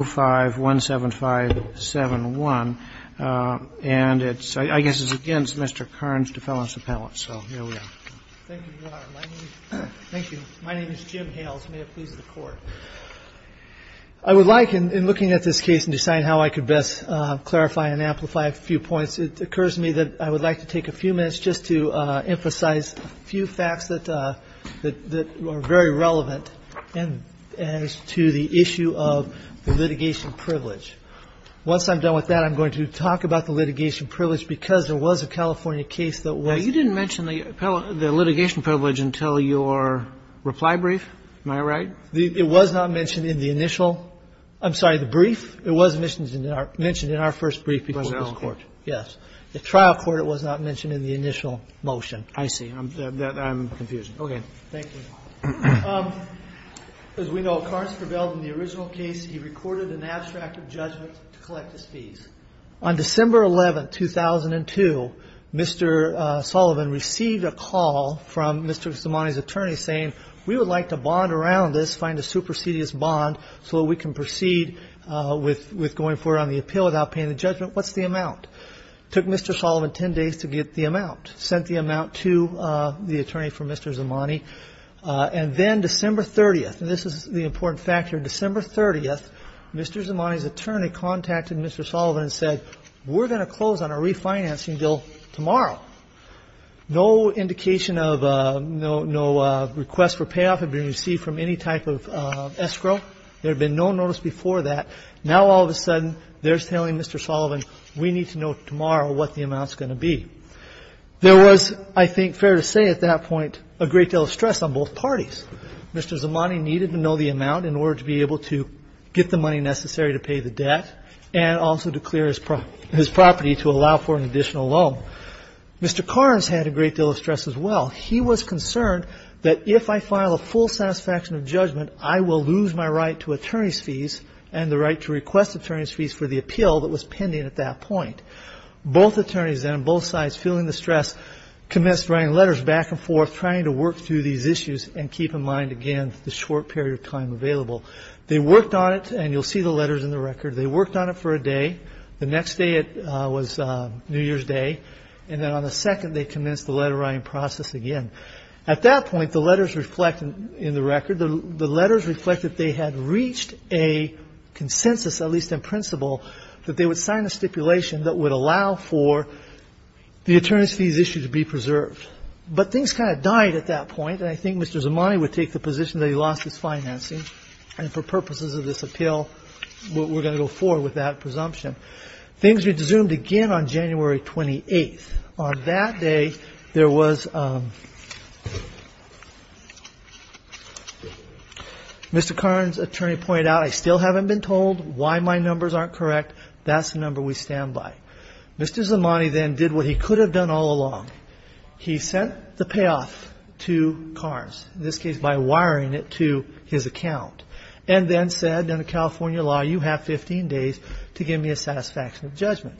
I would like, in looking at this case and deciding how I could best clarify and amplify a few points, it occurs to me that I would like to take a few minutes just to emphasize a few facts that are very relevant as to the issue of the litigation privilege. Once I'm done with that, I'm going to talk about the litigation privilege, because there was a California case that was You didn't mention the litigation privilege until your reply brief, am I right? It was not mentioned in the initial, I'm sorry, the brief. It was mentioned in our first brief before this Court. Yes. The trial court, it was not mentioned in the initial motion. I see. I'm confused. Okay. Thank you. As we know, Carnes prevailed in the original case. He recorded an abstract of judgment to collect his fees. On December 11, 2002, Mr. Sullivan received a call from Mr. Gustamani's attorney saying, we would like to bond around this, find a supersedious bond so that we can proceed with going forward on the appeal without paying the judgment. What's the amount? It took Mr. Sullivan 10 days to get the amount. Sent the amount to the attorney for Mr. Gustamani. And then December 30th, and this is the important factor, December 30th, Mr. Gustamani's attorney contacted Mr. Sullivan and said, we're going to close on a refinancing bill tomorrow. No indication of no request for payoff had been received from any type of escrow. There had been no notice before that. Now, all of a sudden, they're telling Mr. Sullivan, we need to know tomorrow what the amount is going to be. There was, I think, fair to say at that point, a great deal of stress on both parties. Mr. Gustamani needed to know the amount in order to be able to get the money necessary to pay the debt and also to clear his property to allow for an additional loan. Mr. Carnes had a great deal of stress as well. He was concerned that if I file a full satisfaction of judgment, I will lose my right to attorney's fees and the right to request attorney's fees for the appeal that was pending at that point. Both attorneys then on both sides, feeling the stress, commenced writing letters back and forth trying to work through these issues and keep in mind, again, the short period of time available. They worked on it, and you'll see the letters in the record. They worked on it for a day. The next day, it was New Year's Day. And then on the second, they commenced the letter writing process again. At that point, the letters reflect in the record, the letters reflect that they had reached a consensus, at least in principle, that they would sign a stipulation that would allow for the attorney's fees issue to be preserved. But things kind of died at that point, and I think Mr. Zamani would take the position that he lost his financing, and for purposes of this appeal, we're going to go forward with that presumption. Things resumed again on January 28th. On that day, there was, Mr. Carnes' attorney pointed out, I still haven't been told why my numbers aren't correct. That's the number we stand by. Mr. Zamani then did what he could have done all along. He sent the payoff to Carnes, in this case by wiring it to his account, and then said under California law, you have 15 days to give me a satisfaction of judgment.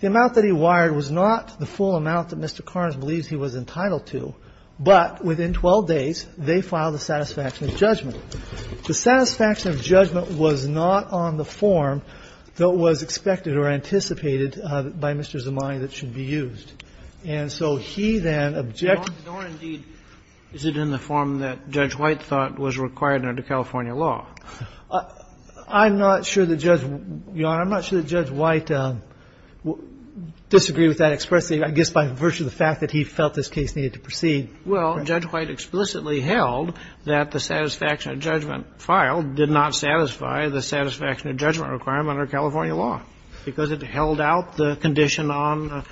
The amount that he wired was not the full amount that Mr. Carnes believes he was entitled to, but within 12 days, they filed a satisfaction of judgment. The satisfaction of judgment was not on the form that was expected or anticipated by Mr. Zamani that should be used. And so he then objected to it. Kennedy. Is it in the form that Judge White thought was required under California law? I'm not sure that Judge White disagreed with that expressly, I guess by virtue of the fact that he felt this case needed to proceed. Well, Judge White explicitly held that the satisfaction of judgment filed did not satisfy the satisfaction of judgment requirement under California law because it held out the condition on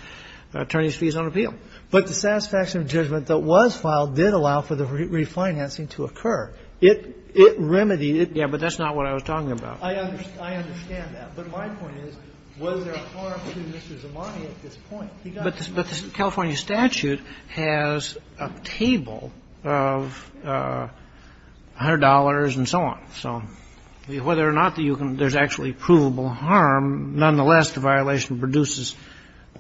attorney's fees on appeal. But the satisfaction of judgment that was filed did allow for the refinancing to occur. It remedied it. Yes, but that's not what I was talking about. I understand that. But my point is, was there a harm to Mr. Zamani at this point? But the California statute has a table of $100 and so on. So whether or not there's actually provable harm, nonetheless, the violation produces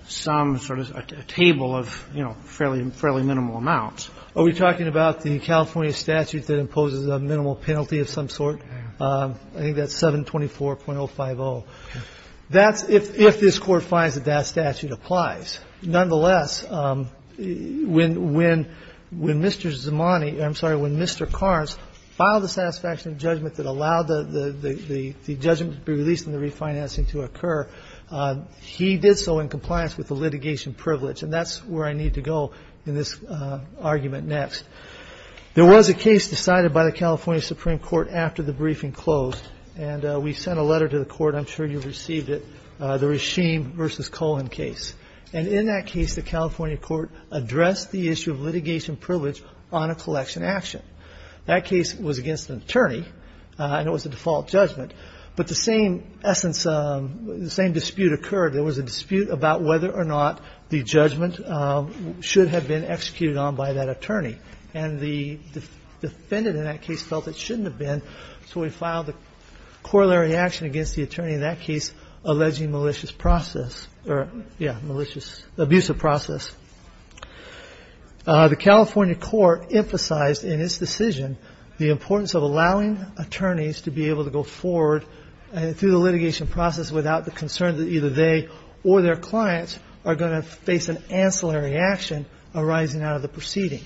some sort of a table of, you know, fairly minimal amounts. Are we talking about the California statute that imposes a minimal penalty of some sort? I think that's 724.050. That's if this Court finds that that statute applies. Nonetheless, when Mr. Zamani or, I'm sorry, when Mr. Karnes filed the satisfaction of judgment that allowed the judgment to be released and the refinancing to occur, he did so in compliance with the litigation privilege. And that's where I need to go in this argument next. There was a case decided by the California Supreme Court after the briefing closed. And we sent a letter to the Court. I'm sure you received it, the Rasheem v. Cullen case. And in that case, the California Court addressed the issue of litigation privilege on a collection action. That case was against an attorney, and it was a default judgment. But the same essence, the same dispute occurred. There was a dispute about whether or not the judgment should have been executed on by that attorney. And the defendant in that case felt it shouldn't have been, so he filed the corollary action against the attorney, in that case, alleging malicious process, or yeah, malicious, abusive process. The California Court emphasized in its decision the importance of allowing attorneys to be able to go forward through the litigation process without the concern that either they or their clients are going to face an ancillary action arising out of the proceeding.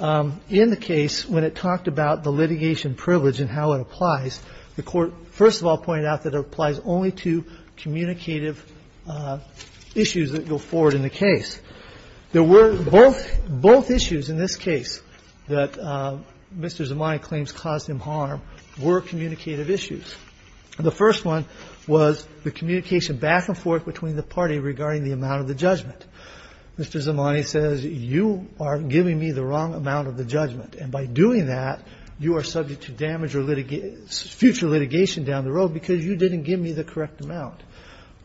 In the case, when it talked about the litigation privilege and how it applies, the Court, first of all, pointed out that it applies only to communicative issues that go forward in the case. There were both issues in this case that Mr. Zamani claims caused him harm were communicative issues. The first one was the communication back and forth between the party regarding the amount of the judgment. Mr. Zamani says, you are giving me the wrong amount of the judgment. And by doing that, you are subject to damage or future litigation down the road because you didn't give me the correct amount.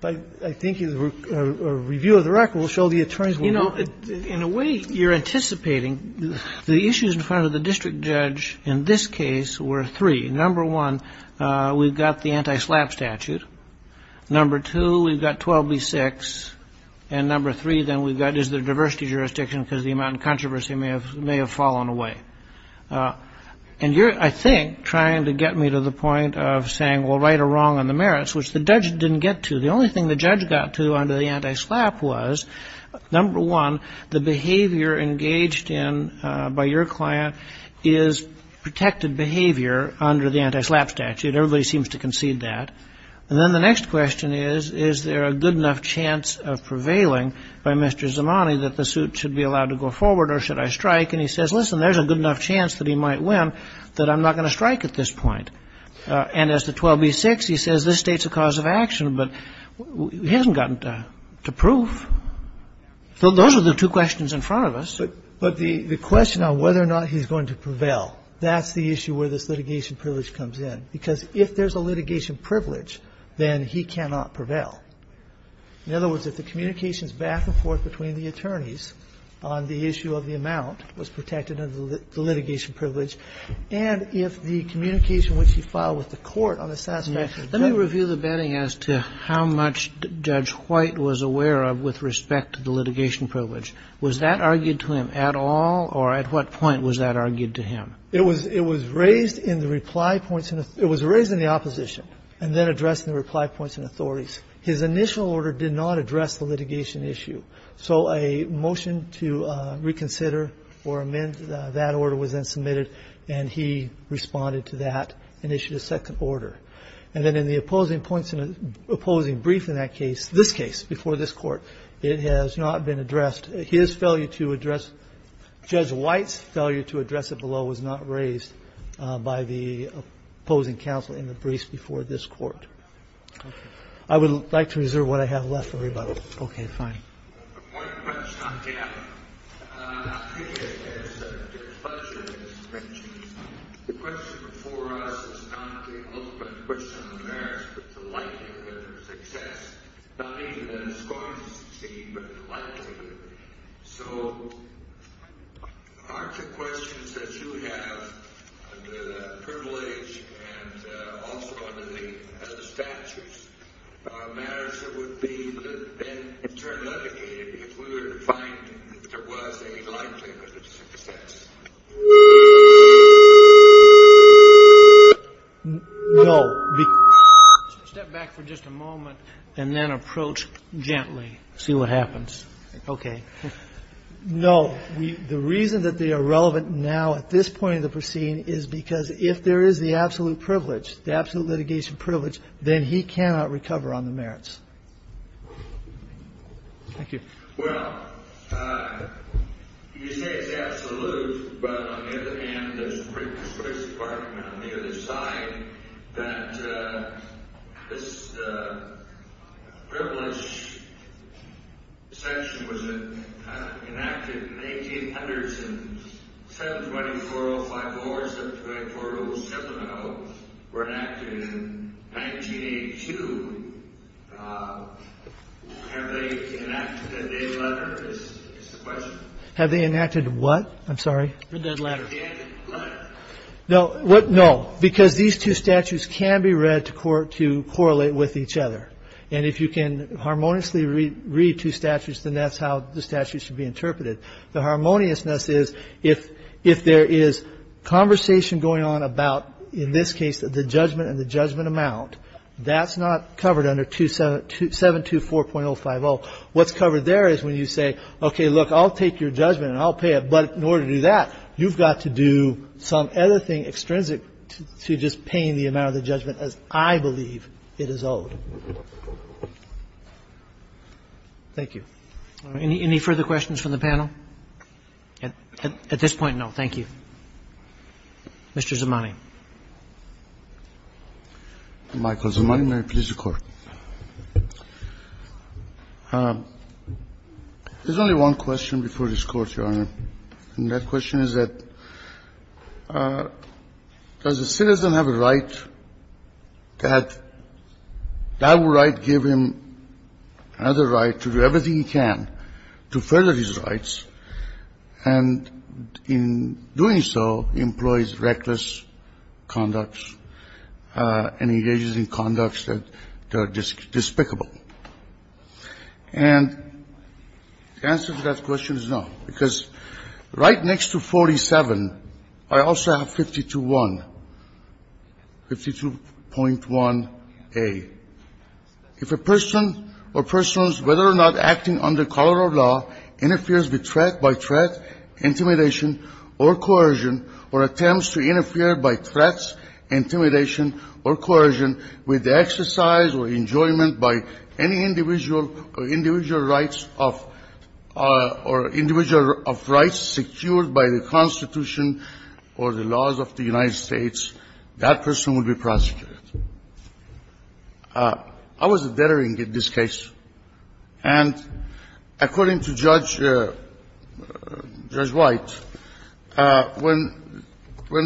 But I think a review of the record will show the attorneys were wrong. In a way, you're anticipating the issues in front of the district judge in this case were three. Number one, we've got the anti-SLAPP statute. Number two, we've got 12B6. And number three, then we've got is there diversity jurisdiction because the amount of controversy may have fallen away. And you're, I think, trying to get me to the point of saying, well, right or wrong on the merits, which the judge didn't get to. The only thing the judge got to under the anti-SLAPP was, number one, the behavior engaged in by your client is protected behavior under the anti-SLAPP statute. Everybody seems to concede that. And then the next question is, is there a good enough chance of prevailing by Mr. Zimani that the suit should be allowed to go forward or should I strike? And he says, listen, there's a good enough chance that he might win that I'm not going to strike at this point. And as to 12B6, he says this states a cause of action, but he hasn't gotten to prove. So those are the two questions in front of us. But the question on whether or not he's going to prevail, that's the issue where this litigation privilege comes in. Because if there's a litigation privilege, then he cannot prevail. In other words, if the communications back and forth between the attorneys on the issue of the amount was protected under the litigation privilege, and if the communication which he filed with the court on the satisfactory judgment of the court. Kennedy. Let me review the betting as to how much Judge White was aware of with respect to the litigation privilege. Was that argued to him at all or at what point was that argued to him? It was raised in the reply points in the opposition and then addressed in the reply His initial order did not address the litigation issue. So a motion to reconsider or amend that order was then submitted. And he responded to that and issued a second order. And then in the opposing brief in that case, this case before this court, it has not been addressed. His failure to address, Judge White's failure to address it below was not raised by the opposing counsel in the brief before this court. I would like to reserve what I have left for everybody. OK, fine. One question on gambling. I think it's a pleasure to mention this. The question before us is not the ultimate question on the merits, but the likelihood of success. Not even in a scoring scheme, but the likelihood. So are the questions that you have under that privilege and also the statutes, are matters that would be then in turn litigated if we were to find that there was a likelihood of success? No. Step back for just a moment and then approach gently. See what happens. OK. No. The reason that they are relevant now at this point in the proceeding is because if there is the absolute privilege, the absolute litigation privilege, then he cannot recover on the merits. Thank you. Well, you say it's absolute, but on the other hand, there's a pretty persuasive argument on the other side that this privilege section was enacted in 1800s in 7204054, 7204070, were enacted in 1982. Have they enacted a dead letter, is the question. Have they enacted what? I'm sorry. A dead letter. No. No, because these two statutes can be read to correlate with each other. And if you can harmoniously read two statutes, then that's how the statute should be interpreted. The harmoniousness is if there is conversation going on about, in this case, the judgment and the judgment amount, that's not covered under 724.050. What's covered there is when you say, OK, look, I'll take your judgment and I'll pay it, but in order to do that, you've got to do some other thing extrinsic to just paying the amount of the judgment as I believe it is owed. Thank you. Any further questions from the panel? At this point, no. Thank you. Mr. Zamani. Michael Zamani, please, the Court. There's only one question before this Court, Your Honor. And that question is that, does a citizen have a right that that right give him another right to do everything he can to further his rights, and in doing so, employs reckless conducts and engages in conducts that are despicable? And the answer to that question is no, because right next to 47, I also have 52.1a. If a person or persons, whether or not acting under color or law, interferes with threat by threat, intimidation, or coercion, or attempts to interfere by threats, intimidation, or coercion, with exercise or enjoyment by any individual or individual rights of or individual of rights secured by the Constitution or the laws of the United States, that person will be prosecuted. I was a veteran in this case. And according to Judge White, when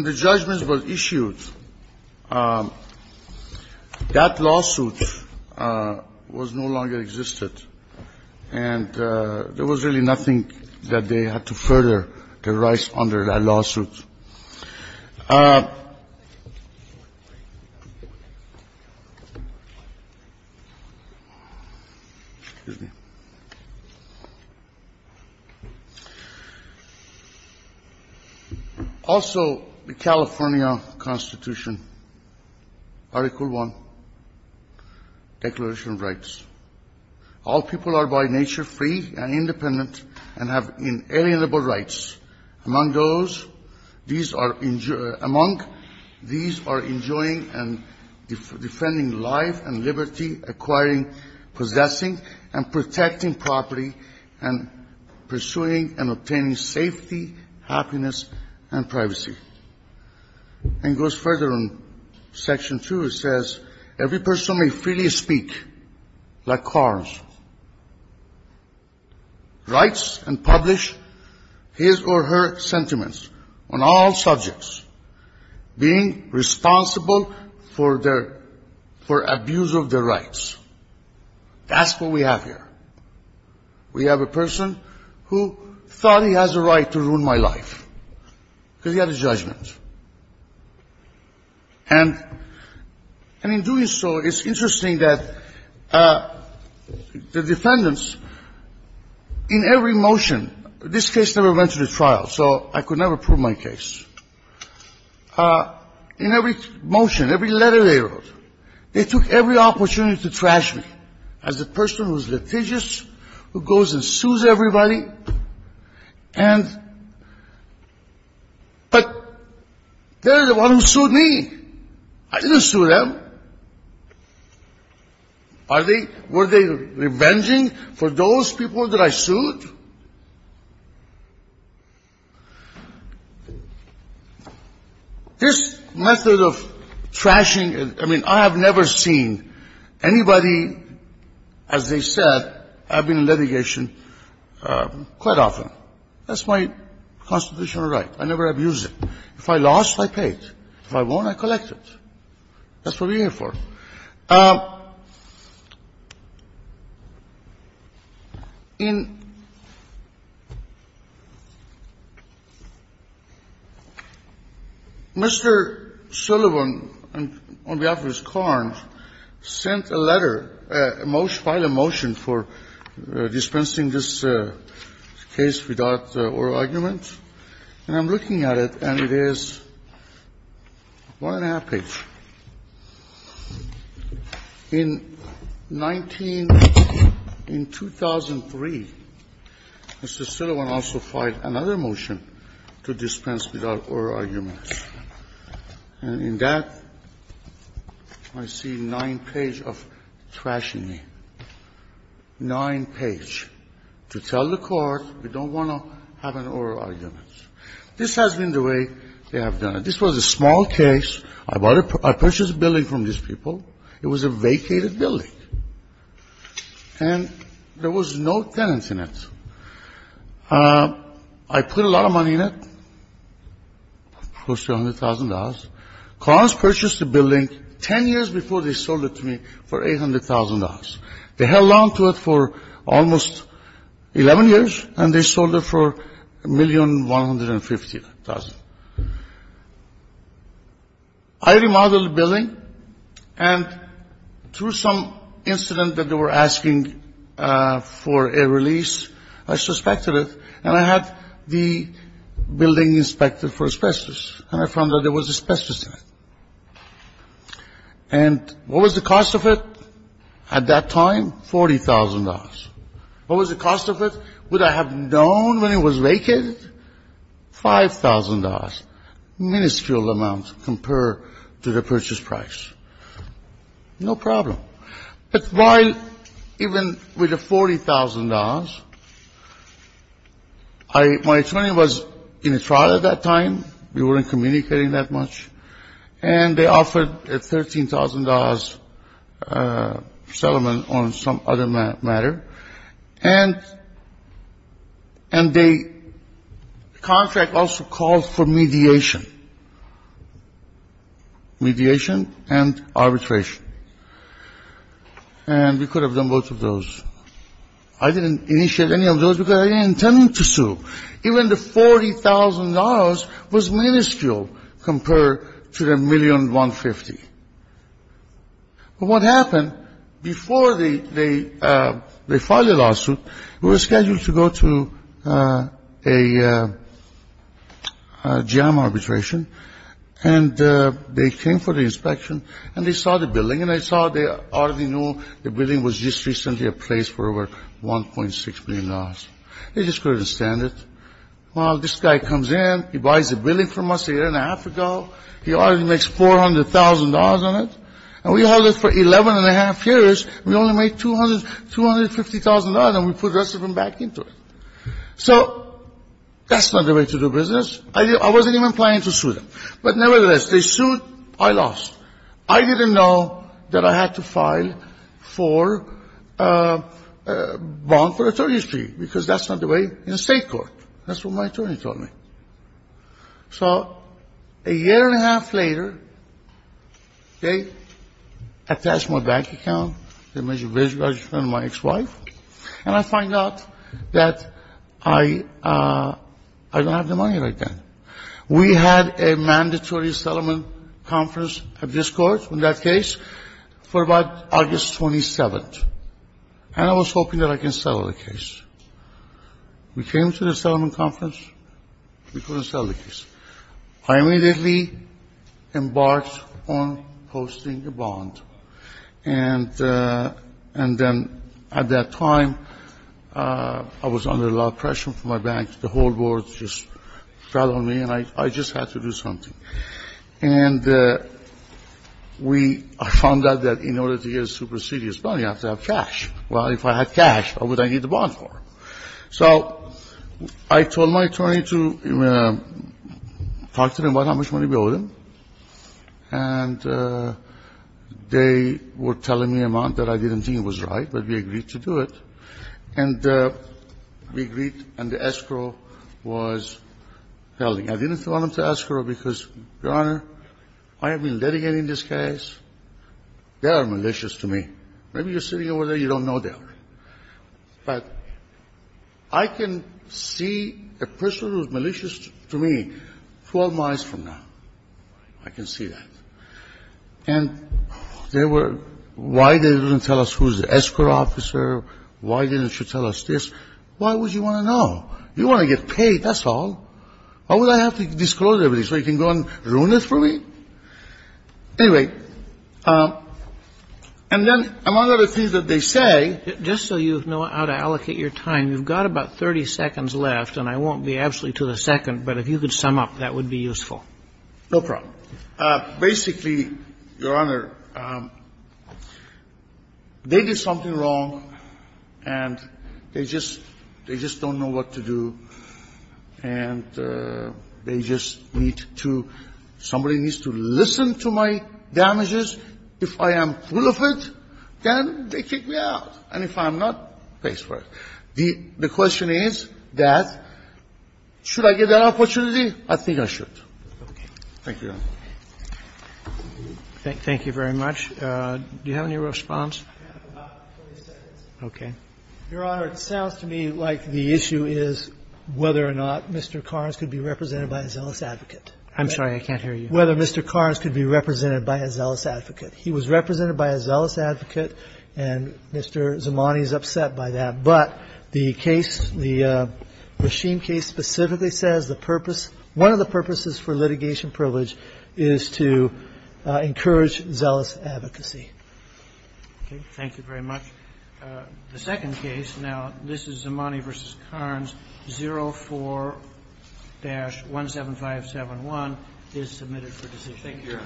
the judgments were issued, that lawsuit was no longer existed. And there was really nothing that they had to further their rights under that lawsuit. Excuse me. Also, the California Constitution, Article I, Declaration of Rights. All people are by nature free and independent and have inalienable rights. Among these are enjoying and defending life and liberty, acquiring, possessing, and protecting property, and goes further in Section 2, it says, every person may freely speak, like Karnes. Writes and publish his or her sentiments on all subjects, being responsible for abuse of their rights. That's what we have here. We have a person who thought he has a right to ruin my life. Because he had a judgment. And in doing so, it's interesting that the defendants, in every motion, this case never went to the trial, so I could never prove my case. In every motion, every letter they wrote, they took every opportunity to trash me as a person who's litigious, who goes and sues everybody. But they're the ones who sued me. I didn't sue them. Were they revenging for those people that I sued? This method of trashing, I mean, I have never seen anybody, as they said, have been in litigation quite often. That's my constitutional right. I never abused it. If I lost, I paid. If I won, I collected. That's what we're here for. In Mr. Sullivan, on behalf of his client, sent a letter, a motion, filed a motion for dispensing this case without oral argument. And I'm looking at it, and it is one-and-a-half page. In 19 – in 2003, Mr. Sullivan also filed another motion to dispense without oral arguments, and in that, I see nine page of trashing me, nine page, to tell the court we don't want to have an oral argument. This has been the way they have done it. This was a small case. I purchased a building from these people. It was a vacated building, and there was no tenants in it. I put a lot of money in it, close to $100,000. Clients purchased the building 10 years before they sold it to me for $800,000. They held on to it for almost 11 years, and they sold it for $1,150,000. I remodeled the building, and through some incident that they were asking for a release, I suspected it, and I had the building inspected for asbestos, and I found out there was asbestos in it. And what was the cost of it at that time? $40,000. What was the cost of it, would I have known when it was vacated? $5,000. Miniscule amount compared to the purchase price. No problem. But while even with the $40,000, my attorney was in a trial at that time. We weren't communicating that much. And they offered a $13,000 settlement on some other matter. And the contract also called for mediation. Mediation and arbitration. And we could have done both of those. I didn't initiate any of those because I didn't intend to sue. Even the $40,000 was minuscule compared to the $1,150,000. But what happened, before they filed a lawsuit, we were scheduled to go to a jam arbitration. And they came for the inspection, and they saw the building, and they saw they already knew the building was just recently replaced for over $1.6 million. They just couldn't stand it. Well, this guy comes in, he buys the building from us a year and a half ago. He already makes $400,000 on it. And we held it for 11 and a half years. We only made $250,000, and we put the rest of them back into it. So that's not the way to do business. I wasn't even planning to sue them. But nevertheless, they sued. I lost. I didn't know that I had to file for a bond for the attorney's fee, because that's not the way in state court. That's what my attorney told me. So a year and a half later, they attached my bank account. They measured my ex-wife, and I find out that I don't have the money right then. We had a mandatory settlement conference of this court, in that case, for about August 27th. And I was hoping that I can settle the case. We came to the settlement conference. We couldn't settle the case. I immediately embarked on posting a bond. And then at that time, I was under a lot of pressure from my bank. The whole board just fell on me, and I just had to do something. And I found out that in order to get a super serious bond, you have to have cash. Well, if I had cash, what would I need the bond for? So I told my attorney to talk to them about how much money we owed them. And they were telling me amount that I didn't think was right, but we agreed to do it. And we agreed, and the escrow was held. I didn't want them to escrow, because, Your Honor, I have been litigating this case. They are malicious to me. Maybe you're sitting over there, you don't know that. But I can see a person who is malicious to me 12 miles from now. I can see that. And they were why they didn't tell us who is the escrow officer, why didn't she tell us this. Why would you want to know? You want to get paid, that's all. Why would I have to disclose everything so you can go and ruin it for me? Anyway, and then among other things that they say. Just so you know how to allocate your time, you've got about 30 seconds left, and I won't be absolutely to the second, but if you could sum up, that would be useful. No problem. Basically, Your Honor, they did something wrong, and they just don't know what to do. And they just need to, somebody needs to listen to my damages. If I am full of it, then they kick me out. And if I'm not, pays for it. The question is that should I get that opportunity? I think I should. Thank you, Your Honor. Roberts. Thank you very much. Do you have any response? I have about 30 seconds. Okay. Your Honor, it sounds to me like the issue is whether or not Mr. Carnes could be represented by a zealous advocate. I'm sorry. I can't hear you. Whether Mr. Carnes could be represented by a zealous advocate. He was represented by a zealous advocate, and Mr. Zamani is upset by that. But the case, the machine case specifically says the purpose, one of the purposes for litigation privilege is to encourage zealous advocacy. Okay. Thank you very much. The second case now, this is Zamani v. Carnes, 04-17571, is submitted for decision.